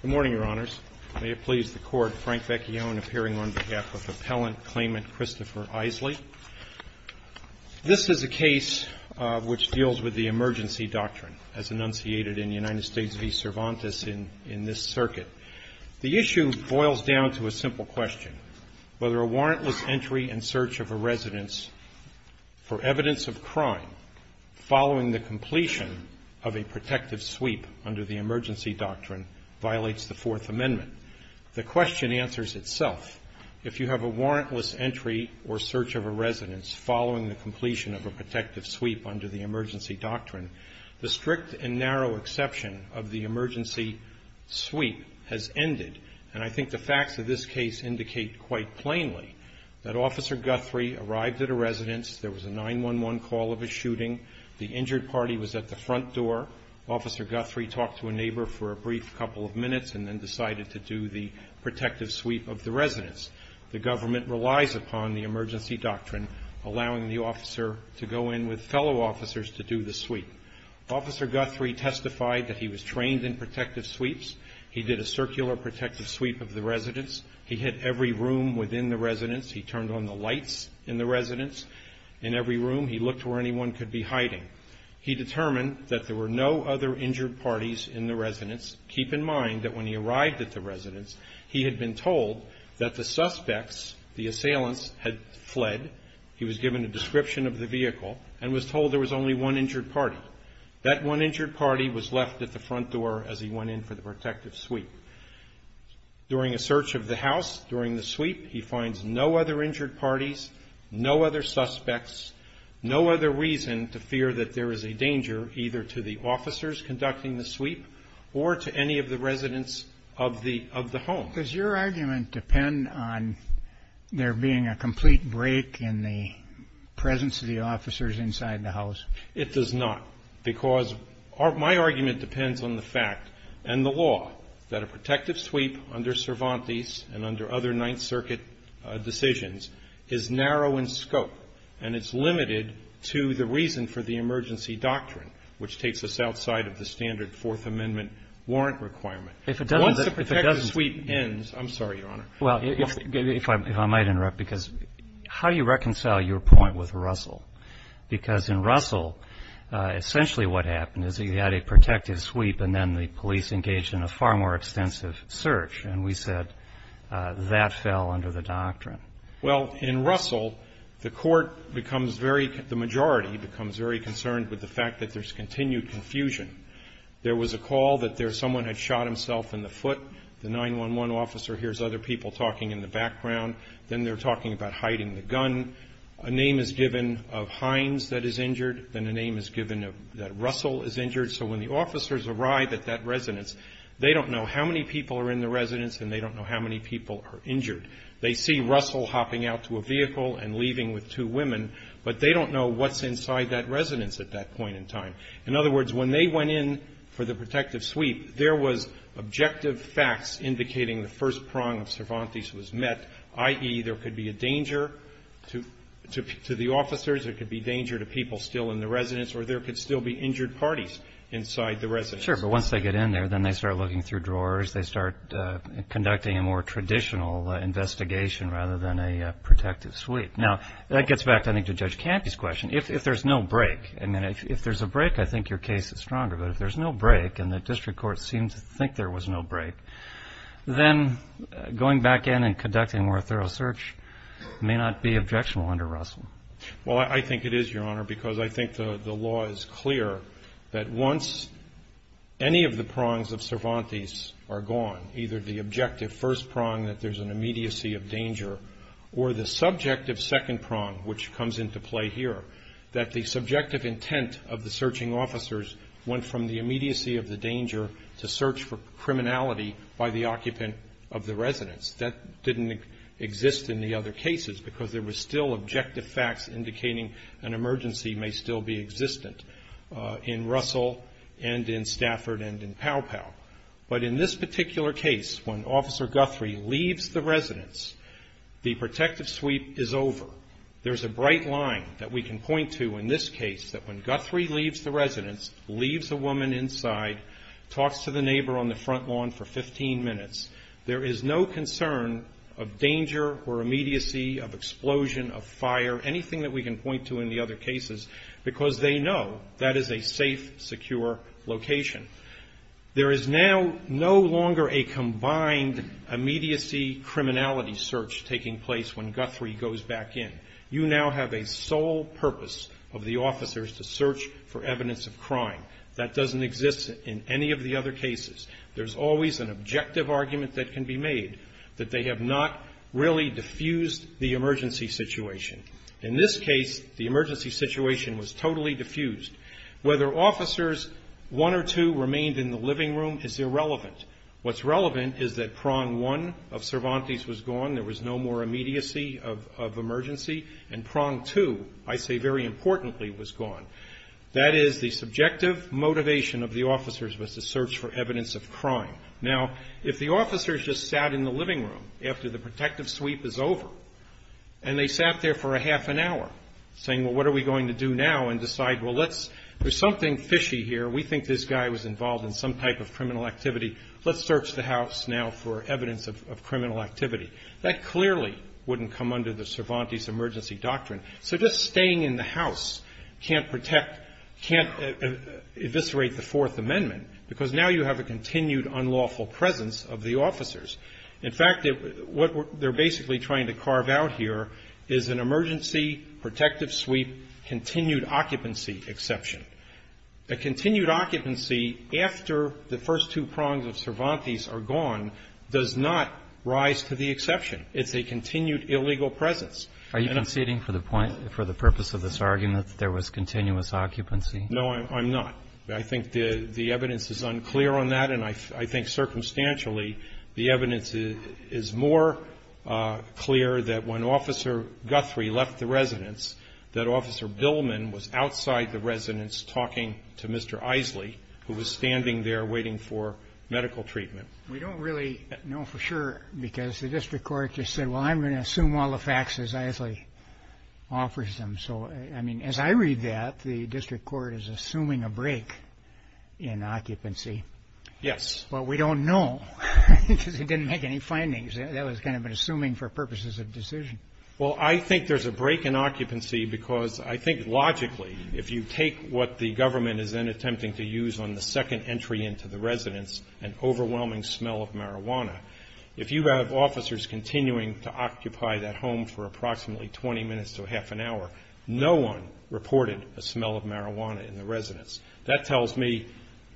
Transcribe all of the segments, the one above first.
Good morning, Your Honors. May it please the Court, Frank Becchione appearing on behalf of Appellant Claimant Christopher Isley. This is a case which deals with the emergency doctrine as enunciated in United States v. Cervantes in this circuit. The issue boils down to a warrant following the completion of a protective sweep under the emergency doctrine violates the Fourth Amendment. The question answers itself. If you have a warrantless entry or search of a residence following the completion of a protective sweep under the emergency doctrine, the strict and narrow exception of the emergency sweep has ended. And I think the facts of this case indicate quite plainly that Officer Guthrie arrived at a residence, there was a 911 call of a shooting, the injured party was at the front door, Officer Guthrie talked to a neighbor for a brief couple of minutes and then decided to do the protective sweep of the residence. The government relies upon the emergency doctrine allowing the officer to go in with fellow officers to do the sweep. Officer Guthrie testified that he was trained in protective sweeps. He did a circular protective sweep of the residence. He hit every room within the residence. He turned on the lights in the residence. In every room he looked where anyone could be hiding. He determined that there were no other injured parties in the residence. Keep in mind that when he arrived at the residence, he had been told that the suspects, the assailants, had fled. He was given a description of the vehicle and was told there was only one injured party. That one injured party was left at the front door as he went in for the protective sweep. During a search of the house, during the sweep, he finds no other injured parties, no other suspects, no other reason to fear that there is a danger either to the officers conducting the sweep or to any of the residents of the home. Does your argument depend on there being a complete break in the presence of the officers inside the house? It does not, because my argument depends on the fact and the law that a protective sweep under Cervantes and under other Ninth Circuit decisions is narrow in scope and it's limited to the reason for the emergency doctrine, which takes us outside of the standard Fourth Amendment warrant requirement. If it doesn't, if it doesn't Once the protective sweep ends, I'm sorry, Your Honor. Well, if I might interrupt, because how do you reconcile your point with Russell? Because in Russell, essentially what happened is he had a protective sweep and then the police engaged in a far more extensive search, and we said that fell under the doctrine. Well, in Russell, the court becomes very, the majority becomes very concerned with the fact that there's continued confusion. There was a call that someone had shot himself in the foot. The 911 officer hears other people talking in the background. Then they're of Hines that is injured. Then a name is given that Russell is injured. So when the officers arrive at that residence, they don't know how many people are in the residence and they don't know how many people are injured. They see Russell hopping out to a vehicle and leaving with two women, but they don't know what's inside that residence at that point in time. In other words, when they went in for the protective sweep, there was objective facts indicating the first prong of Cervantes was met, i.e., there could be a danger to the officers, there could be danger to people still in the residence, or there could still be injured parties inside the residence. Sure, but once they get in there, then they start looking through drawers. They start conducting a more traditional investigation rather than a protective sweep. Now, that gets back, I think, to Judge Campy's question. If there's no break, I mean, if there's a break, I think your case is stronger, but if there's no break and the district court seemed to think there was no break, then going back in and conducting a more thorough search may not be objectionable under Russell. Well, I think it is, Your Honor, because I think the law is clear that once any of the prongs of Cervantes are gone, either the objective first prong that there's an immediacy of danger or the subjective second prong, which comes into play here, that the subjective intent of the searching officers went from the immediacy of the danger to search for the other cases because there was still objective facts indicating an emergency may still be existent in Russell and in Stafford and in Pow Pow. But in this particular case, when Officer Guthrie leaves the residence, the protective sweep is over. There's a bright line that we can point to in this case that when Guthrie leaves the residence, leaves a woman inside, talks to the neighbor on the front lawn for 15 minutes, there is no concern of danger or immediacy of explosion, of fire, anything that we can point to in the other cases because they know that is a safe, secure location. There is now no longer a combined immediacy criminality search taking place when Guthrie goes back in. You now have a sole purpose of the officers to search for evidence of crime. That doesn't exist in any of the other cases. There's always an objective argument that can be made, that they have not really diffused the emergency situation. In this case, the emergency situation was totally diffused. Whether officers 1 or 2 remained in the living room is irrelevant. What's relevant is that prong 1 of Cervantes was gone. There was no more immediacy of emergency. And prong 2, I say very importantly, was gone. That is the subjective motivation of the officers was to search for evidence of crime. Now, if the officers just sat in the living room after the protective sweep is over and they sat there for a half an hour saying, well, what are we going to do now and decide, well, let's, there's something fishy here. We think this guy was involved in some type of criminal activity. Let's search the house now for evidence of criminal activity. That clearly wouldn't come under the Cervantes emergency doctrine. So just staying in the house can't protect, can't eviscerate the Fourth Amendment because now you have a continued unlawful presence of the officers. In fact, what they're basically trying to carve out here is an emergency protective sweep continued occupancy exception. A continued occupancy after the first two prongs of Cervantes are gone does not rise to the exception. It's a continued illegal presence. And I'm Are you conceding for the point, for the purpose of this argument that there was continuous occupancy? No, I'm not. I think the evidence is unclear on that, and I think circumstantially the evidence is more clear that when Officer Guthrie left the residence that Officer Billman was outside the residence talking to Mr. Isley, who was standing there waiting for medical treatment. We don't really know for sure because the district court just said, well, I'm going to assume all the facts as Isley offers them. So, I mean, as I read that, the district court is assuming a break in occupancy. Yes. But we don't know because they didn't make any findings. That was kind of an assuming for purposes of decision. Well, I think there's a break in occupancy because I think logically if you take what the government is then attempting to use on the second entry into the residence, an overwhelming smell of marijuana, if you have officers continuing to occupy that home for approximately 20 minutes to a half an hour, no one reported a smell of marijuana in the residence. That tells me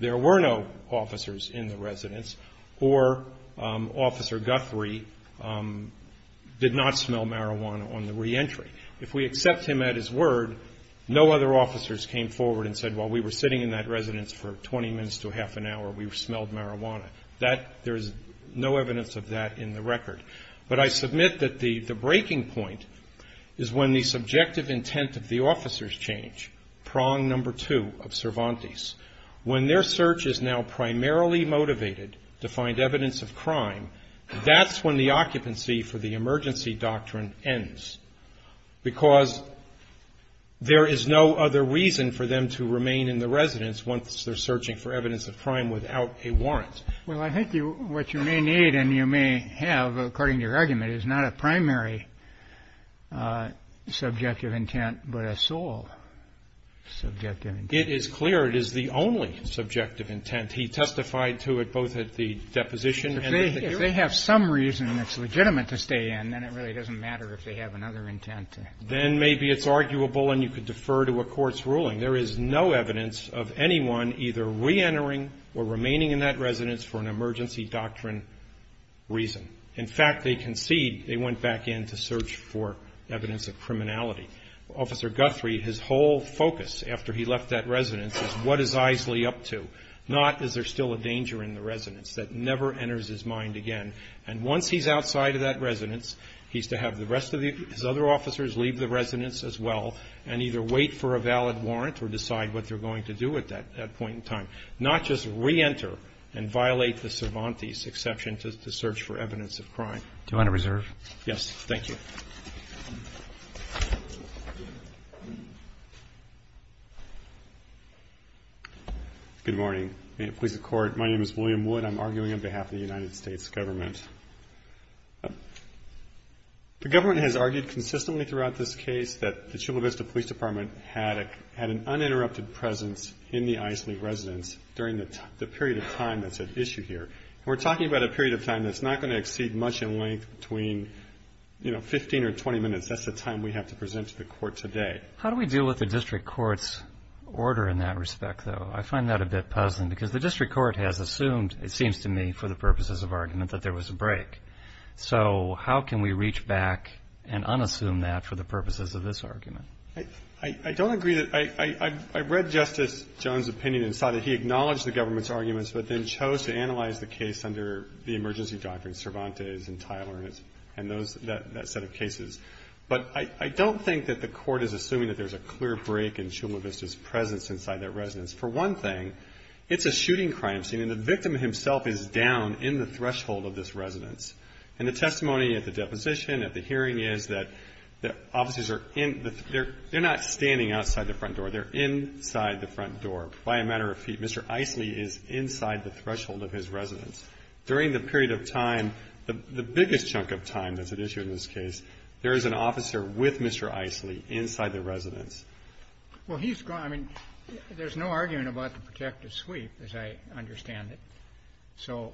there were no officers in the residence or Officer Guthrie did not smell marijuana on the reentry. If we accept him at his word, no other officers came forward and said, well, we were sitting in that residence for 20 minutes to a half an hour. We smelled marijuana. There's no evidence of that in the record. But I submit that the breaking point is when the subjective intent of the officers change, prong number two of Cervantes. When their search is now primarily motivated to find evidence of crime, that's when the occupancy for the emergency doctrine ends because there is no other reason for them to remain in the residence. Well, I think what you may need and you may have, according to your argument, is not a primary subjective intent but a sole subjective intent. It is clear it is the only subjective intent. He testified to it both at the deposition and at the hearing. If they have some reason that's legitimate to stay in, then it really doesn't matter if they have another intent. Then maybe it's arguable and you could defer to a court's ruling. There is no evidence of anyone either reentering or remaining in that residence for an emergency doctrine reason. In fact, they concede they went back in to search for evidence of criminality. Officer Guthrie, his whole focus after he left that residence is what is Isley up to, not is there still a danger in the residence. That never enters his mind again. And once he's outside of that residence, he's to have the rest of his other officers leave the residence as well and either wait for a valid warrant or decide what they're going to do at that point in time, not just reenter and violate the Cervantes exception to search for evidence of crime. Do you want to reserve? Yes. Thank you. Good morning. Police and Court. My name is William Wood. I'm arguing on behalf of the United States government. The government has argued consistently throughout this case that the Chula Vista Police Department had an uninterrupted presence in the Isley residence during the period of time that's at issue here. We're talking about a period of time that's not going to exceed much in length between 15 or 20 minutes. That's the time we have to present to the court today. How do we deal with the district court's order in that respect, though? I find that a bit puzzling because the district court has assumed, it seems to me for the purposes of argument, that there was a break. So how can we reach back and unassume that for the purposes of this argument? I don't agree that – I read Justice Jones' opinion and saw that he acknowledged the government's arguments but then chose to analyze the case under the emergency doctrine Cervantes and Tyler and those – that set of cases. But I don't think that the court is assuming that there's a clear break in Chula Vista's presence inside that residence. For one thing, it's a shooting crime scene and the victim himself is down in the threshold of this residence. And the testimony at the deposition, at the hearing, is that the officers are in – they're not standing outside the front door. They're inside the front door by a matter of feet. Mr. Isley is inside the threshold of his residence. During the period of time, the biggest chunk of time that's at issue in this case, there is an officer with Mr. Isley inside the residence. Well, he's – I mean, there's no argument about the protective sweep, as I understand it. So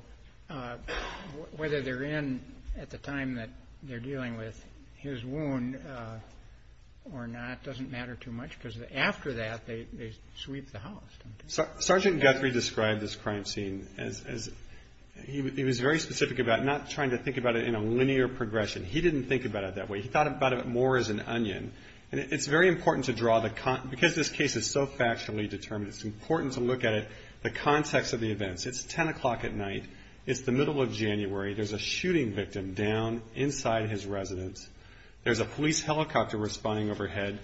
whether they're in at the time that they're dealing with his wound or not doesn't matter too much because after that, they sweep the house, don't they? Sergeant Guthrie described this crime scene as – he was very specific about not trying to think about it in a linear progression. He didn't think about it that way. He thought about it more as an onion. And it's very important to draw the – because this case is so factually determined, it's important to look at it, the context of the events. It's 10 o'clock at night. It's the middle of January. There's a shooting victim down inside his residence. There's a police helicopter responding overhead.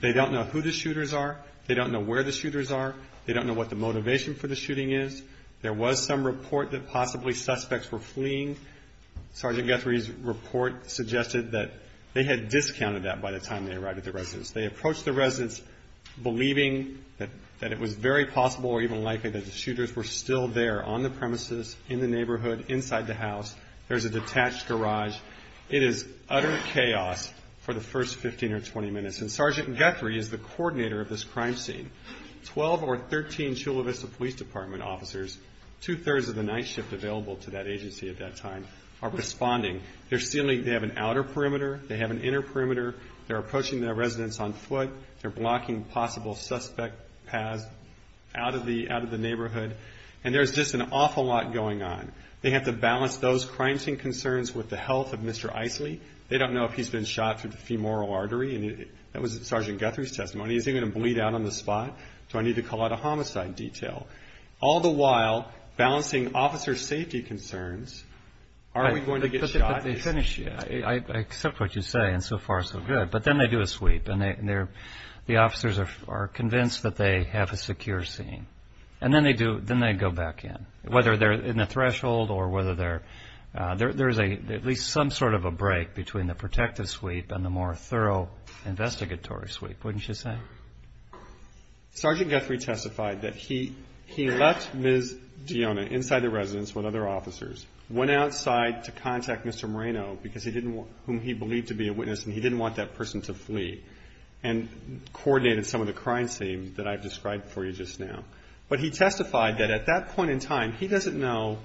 They don't know who the shooters are. They don't know where the shooters are. They don't know what the motivation for the shooting is. There was some report that possibly suspects were fleeing. Sergeant Guthrie's report suggested that they had discounted that by the time they arrived at the residence. They approached the residence believing that it was very possible or even likely that the shooters were still there on the premises, in the neighborhood, inside the house. There's a detached garage. It is utter chaos for the first 15 or 20 minutes. And Sergeant Guthrie is the coordinator of this crime scene. Twelve or 13 Chula Vista Police Department officers, two-thirds of the night shift available to that agency at that time, are responding. They're sealing – they have an outer perimeter. They have an inner perimeter. They're approaching their residence on foot. They're blocking possible suspect paths out of the neighborhood. And there's just an awful lot going on. They have to balance those crime scene concerns with the health of Mr. Isley. They don't know if he's been shot through the femoral artery. And that was Sergeant Guthrie's testimony. Is he going to bleed out on the spot? Do I need to call out a homicide detail? All the while, balancing officer safety concerns, are we going to get shot? But they finish – I accept what you say, and so far, so good. But then they do a sweep. The officers are convinced that they have a secure scene. And then they go back in, whether they're in the threshold or whether they're – there's at least some sort of a break between the protective sweep and the more thorough investigatory sweep, wouldn't you say? Sergeant Guthrie testified that he left Ms. Dionna inside the residence with other officers, went outside to contact Mr. Moreno, because he didn't – whom he believed to be a witness, and he didn't want that person to flee, and coordinated some of the crime scenes that I've described for you just now. But he testified that at that point in time, he doesn't know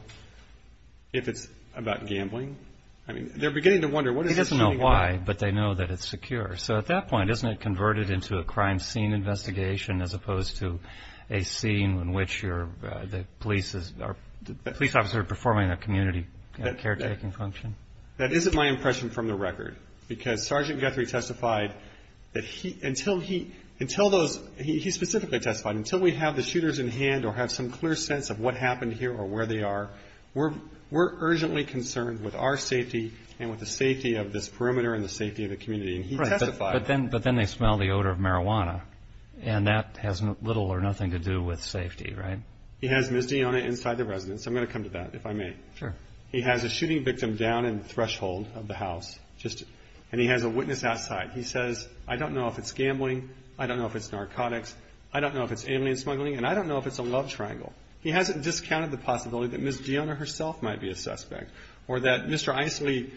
if it's about gambling. I mean, they're beginning to wonder, what is this shooting about? He doesn't know why, but they know that it's secure. So at that point, isn't it converted into a crime scene investigation as opposed to a scene in which you're – the police is – or the police officer performing a community caretaking function? That isn't my impression from the record, because Sergeant Guthrie testified that he – until he – until those – he specifically testified, until we have the shooters in hand or have some clear sense of what happened here or where they are, we're urgently concerned with our safety and with the safety of this perimeter and the safety of the community. And he testified – Right. But then they smell the odor of marijuana. And that has little or nothing to do with safety, right? He has Ms. Dionna inside the residence. I'm going to come to that, if I may. Sure. He has a shooting victim down in the threshold of the house, just – and he has a witness outside. He says, I don't know if it's gambling, I don't know if it's narcotics, I don't know if it's alien smuggling, and I don't know if it's a love triangle. He hasn't discounted the possibility that Ms. Dionna herself might be a suspect or that Mr. Isley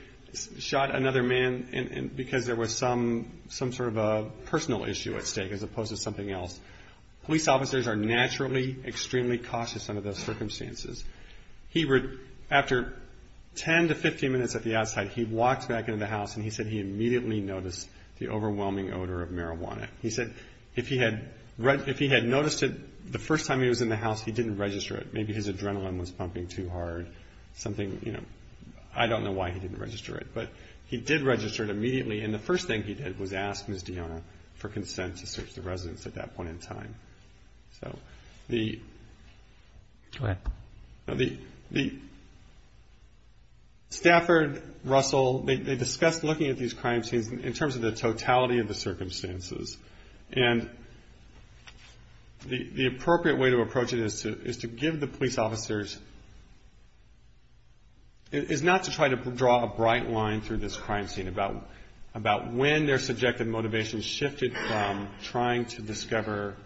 shot another man because there was some sort of a personal issue at stake as police officers are naturally extremely cautious under those circumstances. He – after 10 to 15 minutes at the outside, he walked back into the house and he said he immediately noticed the overwhelming odor of marijuana. He said if he had noticed it the first time he was in the house, he didn't register it. Maybe his adrenaline was pumping too hard, something – I don't know why he didn't register it. But he did register it immediately, and the first thing he did was ask Ms. Dionna for consent to search the So the – Go ahead. No, the – Stafford, Russell, they discussed looking at these crime scenes in terms of the totality of the circumstances, and the appropriate way to approach it is to give the police officers – is not to try to draw a bright line through this crime scene about when their subjective motivations shifted from trying to discover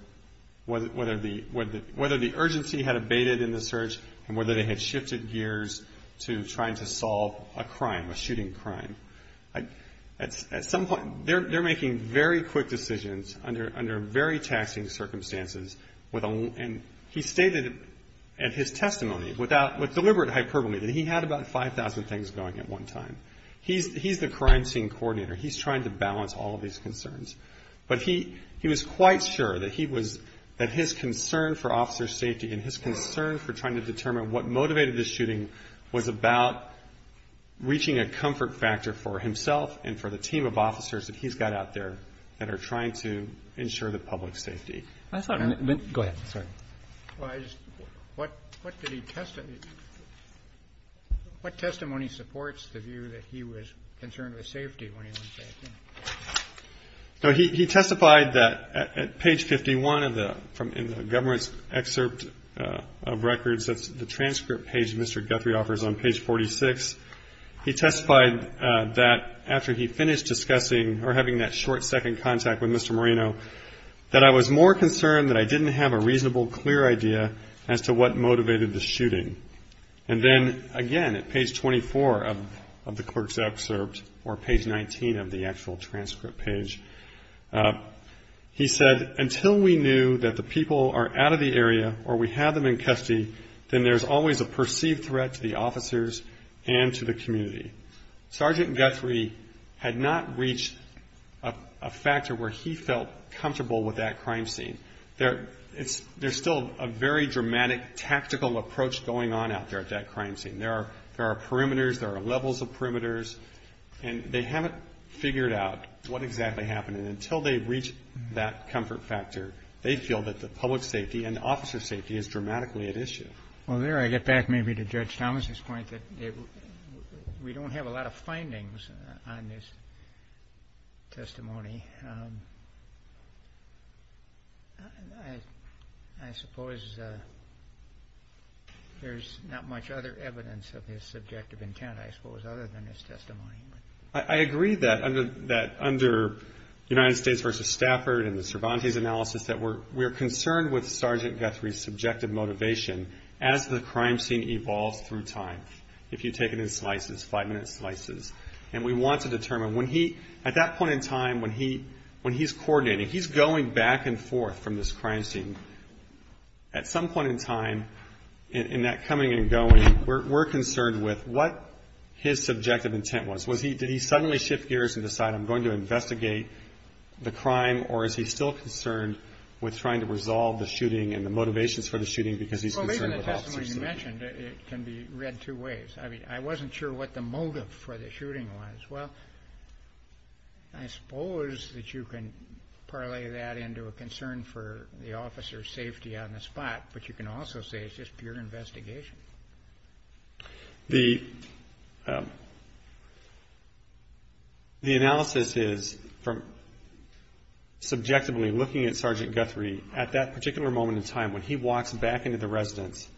whether the urgency had abated in the search and whether they had shifted gears to trying to solve a crime, a shooting crime. At some point – they're making very quick decisions under very taxing circumstances with – and he stated in his testimony without – with deliberate hyperbole that he had about 5,000 things going at one time. He's the crime scene coordinator. He's trying to balance all of these concerns. But he was quite sure that he was – that his concern for officers' safety and his concern for trying to determine what motivated the shooting was about reaching a comfort factor for himself and for the team of officers that he's got out there that are trying to ensure the public's safety. I thought – Go ahead. Sorry. Well, I just – what did he – what testimony supports the view that he was concerned with safety? No, he testified that at page 51 of the – from – in the government's excerpt of records, that's the transcript page Mr. Guthrie offers on page 46. He testified that after he finished discussing – or having that short second contact with Mr. Moreno, that I was more concerned that I didn't have a reasonable, clear idea as to what motivated the shooting. And then, again, at page 24 of the clerk's excerpt, or page 19 of the actual transcript page, he said, until we knew that the people are out of the area or we have them in custody, then there's always a perceived threat to the officers and to the community. Sergeant Guthrie had not reached a factor where he felt comfortable with that crime scene. There – it's – there's still a very dramatic tactical approach going on out there at that crime scene. There are – there are perimeters, there are levels of perimeters, and they haven't figured out what exactly happened. And until they reach that comfort factor, they feel that the public safety and the officer's safety is dramatically at issue. Well, there I get back maybe to Judge Thomas's point that we don't have a lot of findings on this testimony. I – I suppose there's not much other evidence of his subjective intent, I suppose, other than his testimony. I agree that under – that under United States v. Stafford and the Cervantes analysis that we're – we're concerned with Sergeant Guthrie's subjective motivation as the crime scene evolves through time. If you take it in slices, five-minute slices. And we want to determine when he – at that point in time, when he – when he's coordinating, he's going back and forth from this crime scene. At some point in time, in – in that coming and going, we're – we're concerned with what his subjective intent was. Was he – did he suddenly shift gears and decide, I'm going to investigate the crime, or is he still concerned with trying to resolve the shooting and the motivations for the shooting because he's concerned with officer safety? Well, even the testimony you mentioned, it can be read two ways. I mean, I wasn't sure what the motive for the shooting was. Well, I suppose that you can parlay that into a concern for the officer's safety on the spot, but you can also say it's just pure investigation. The – the analysis is from subjectively looking at Sergeant Guthrie at that particular moment in time, when he walks back into the residence,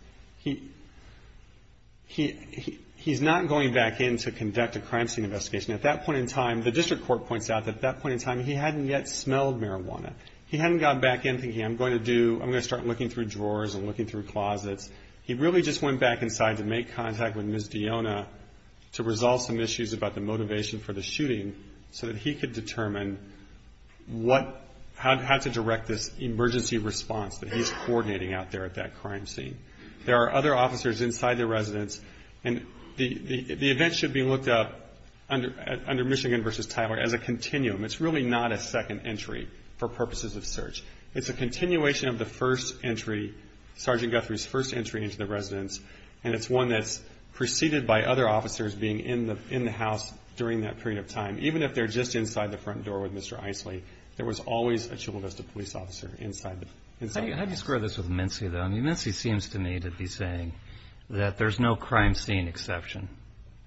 he – he – he's not going back in to conduct a crime scene investigation. At that point in time, the district court points out that at that point in time, he hadn't yet smelled marijuana. He hadn't gone back in thinking, I'm going to do – I'm going to start looking through drawers and looking through closets. He really just went back inside to make contact with Ms. Diona to resolve some issues about the motivation for the shooting so that he could determine what – how to direct this emergency response that he's coordinating out there at that crime scene. There are other officers inside the residence, and the – the event should be looked up under – under Michigan v. Tyler as a continuum. It's really not a second entry for purposes of search. It's a continuation of the first entry, Sergeant Guthrie's first entry into the residence, and it's one that's preceded by other officers being in the – in the house during that period of time. Even if they're just inside the front door with Mr. Isley, there was always a Chippewa Vista police officer inside the – inside. How do you square this with Mincy, though? I mean, Mincy seems to me to be saying that there's no crime scene exception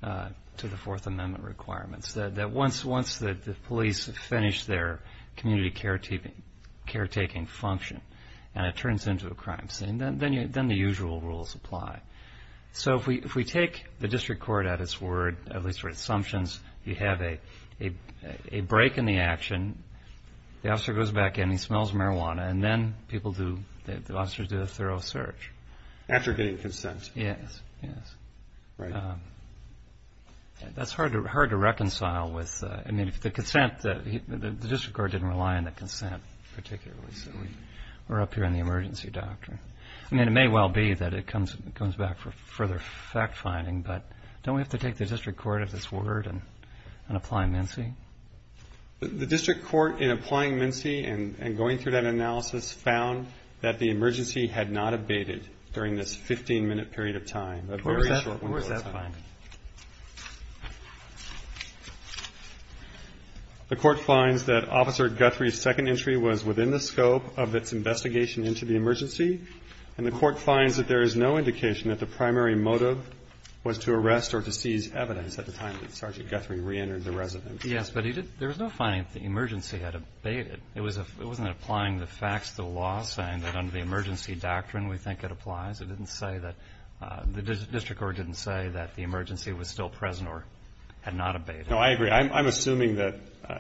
to the Fourth Amendment requirements, that once – once the police have finished their community care taking – care taking function and it turns into a crime scene, then you – then the usual rules apply. So if we – if we take the district court at its word, at least for assumptions, you have a – a break in the action, the officer goes back and he smells marijuana, and then people do – the officers do a thorough search. After getting consent. Yes, yes. Right. That's hard to – hard to reconcile with – I mean, if the consent – the district court didn't rely on the consent particularly, so we're up here on the emergency doctrine. I mean, it may well be that it comes – comes back for further fact-finding, but don't we have to take the district court at its word and – and apply Mincy? The district court, in applying Mincy and – and going through that analysis, found that the emergency had not abated during this 15-minute period of time, a very short window of time. Where was that – where was that find? The court finds that Officer Guthrie's second entry was within the scope of its investigation into the emergency, and the court finds that there is no indication that the primary motive was to arrest or to seize evidence at the time that Sergeant Guthrie reentered the residence. Yes, but he did – there was no finding that the emergency had abated. It was a – it wasn't applying the facts to the law, saying that under the emergency doctrine we think it applies. It didn't say that – the district court didn't say that the emergency was still present or had not abated. No, I agree. I'm assuming that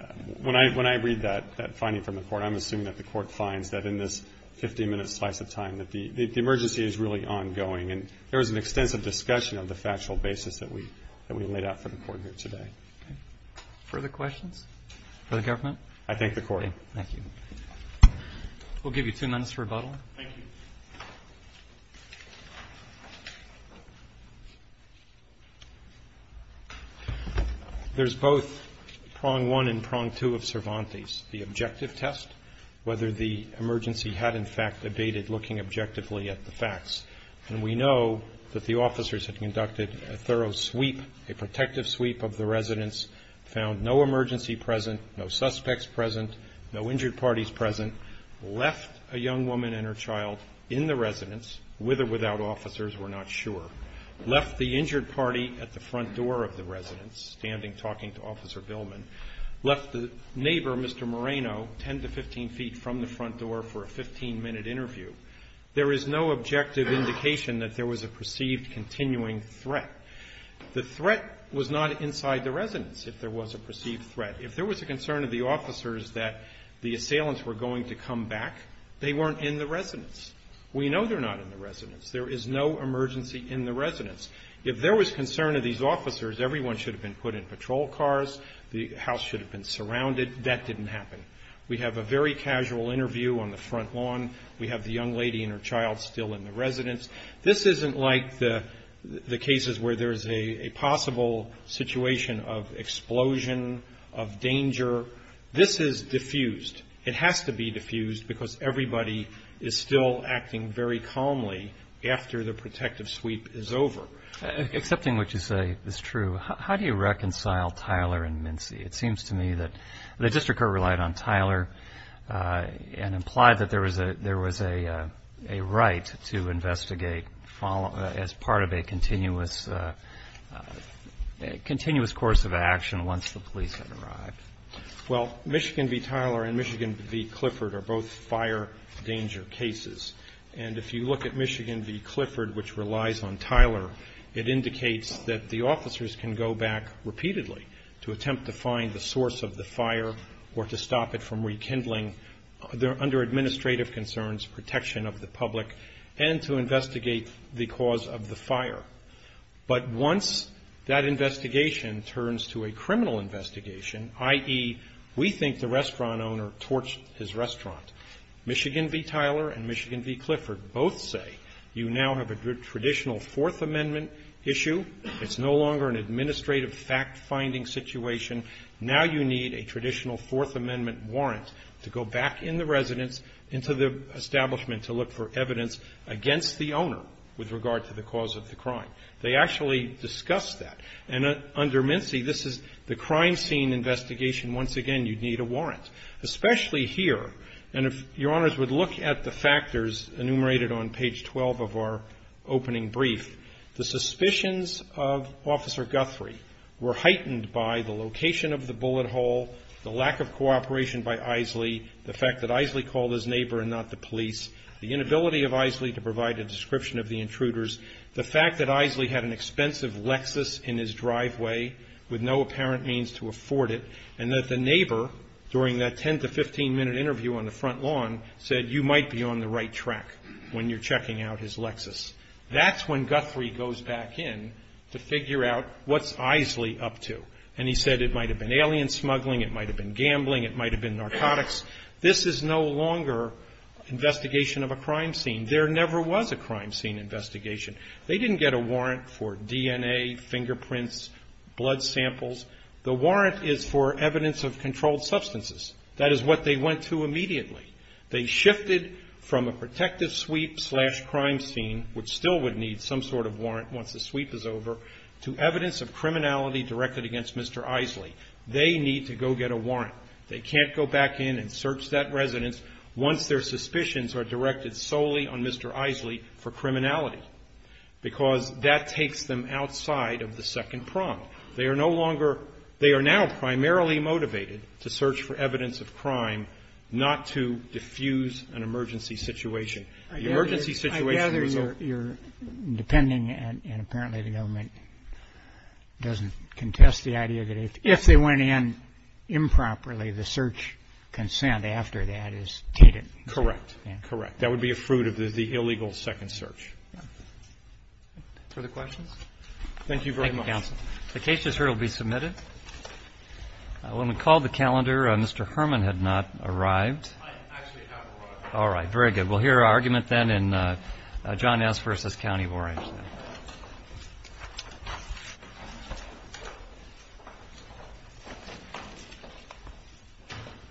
– when I – when I read that – that finding from the court, I'm assuming that the court finds that in this 15-minute slice of time that the emergency is really ongoing, and there was an extensive discussion of the factual basis that we – that we laid out for the court here today. Further questions for the government? I thank the court. Thank you. We'll give you two minutes for rebuttal. Thank you. There's both prong one and prong two of Cervantes, the objective test, whether the emergency had in fact abated, looking objectively at the facts. And we know that the officers had conducted a thorough sweep, a protective sweep of the residence, found no emergency present, no suspects present, no injured parties present, left a young woman and her child in the residence, with or without officers, we're not sure, left the injured party at the front door of the residence, standing, talking to Officer Billman, left the neighbor, Mr. Moreno, 10 to 15 feet from the front door for a 15-minute interview. There is no objective indication that there was a perceived continuing threat. The threat was not inside the residence, if there was a perceived threat. If there was a concern of the officers that the assailants were going to come back, they weren't in the residence. We know they're not in the residence. There is no emergency in the residence. If there was concern of these officers, everyone should have been put in patrol cars, the house should have been surrounded. That didn't happen. We have a very casual interview on the front lawn. We have the young lady and her child still in the residence. This isn't like the cases where there's a possible situation of explosion, of danger. This is diffused. It has to be diffused because everybody is still acting very calmly after the protective sweep is over. Excepting what you say is true, how do you reconcile Tyler and Mincy? It seems to me that the district court relied on Tyler and implied that there was a right to investigate as part of a continuous course of action once the police had arrived. Well, Michigan v. Tyler and Michigan v. Clifford are both fire danger cases. If you look at Michigan v. Clifford, which relies on Tyler, it indicates that the officers can go back repeatedly to attempt to find the source of the fire or to stop it from rekindling, under administrative concerns, protection of the public and to investigate the cause of the fire. But once that investigation turns to a criminal investigation, i.e., we think the restaurant owner torched his restaurant. Michigan v. Tyler and Michigan v. Clifford both say you now have a traditional Fourth Amendment issue. It's no longer an administrative fact-finding situation. Now you need a traditional Fourth Amendment warrant to go back in the residence, into the establishment to look for evidence against the owner with regard to the cause of the crime. They actually discuss that. And under Mincy, this is the crime scene investigation. Once again, you need a warrant, especially here. And if Your Honors would look at the factors enumerated on page 12 of our opening brief, the suspicions of Officer Guthrie were heightened by the location of the bullet hole, the lack of cooperation by Eiseley, the fact that Eiseley called his neighbor and not the police, the inability of Eiseley to provide a description of the intruders, the fact that Eiseley had an expensive Lexus in his driveway with no apparent means to afford it, and that the neighbor, during that 10 to 15 minute interview on the front lawn, said you might be on the right track when you're checking out his Lexus. That's when Guthrie goes back in to figure out what's Eiseley up to. And he said it might have been alien smuggling, it might have been gambling, it might have been narcotics. This is no longer investigation of a crime scene. There never was a crime scene investigation. They didn't get a warrant for DNA, fingerprints, blood samples. The warrant is for evidence of crime. They shifted from a protective sweep slash crime scene, which still would need some sort of warrant once the sweep is over, to evidence of criminality directed against Mr. Eiseley. They need to go get a warrant. They can't go back in and search that residence once their suspicions are directed solely on Mr. Eiseley for criminality, because that takes them outside of the second prompt. They are now primarily motivated to search for evidence of crime, not to diffuse an emergency situation. I gather you're depending, and apparently the government doesn't contest the idea that if they went in improperly, the search consent after that is tainted. Correct. Correct. That would be a fruit of the illegal second search. Further questions? Thank you very much. The case just heard will be submitted. When we called the calendar, Mr. Herman had not arrived. I actually have arrived. All right. Very good. We'll hear our argument then in John S. versus County of Orange.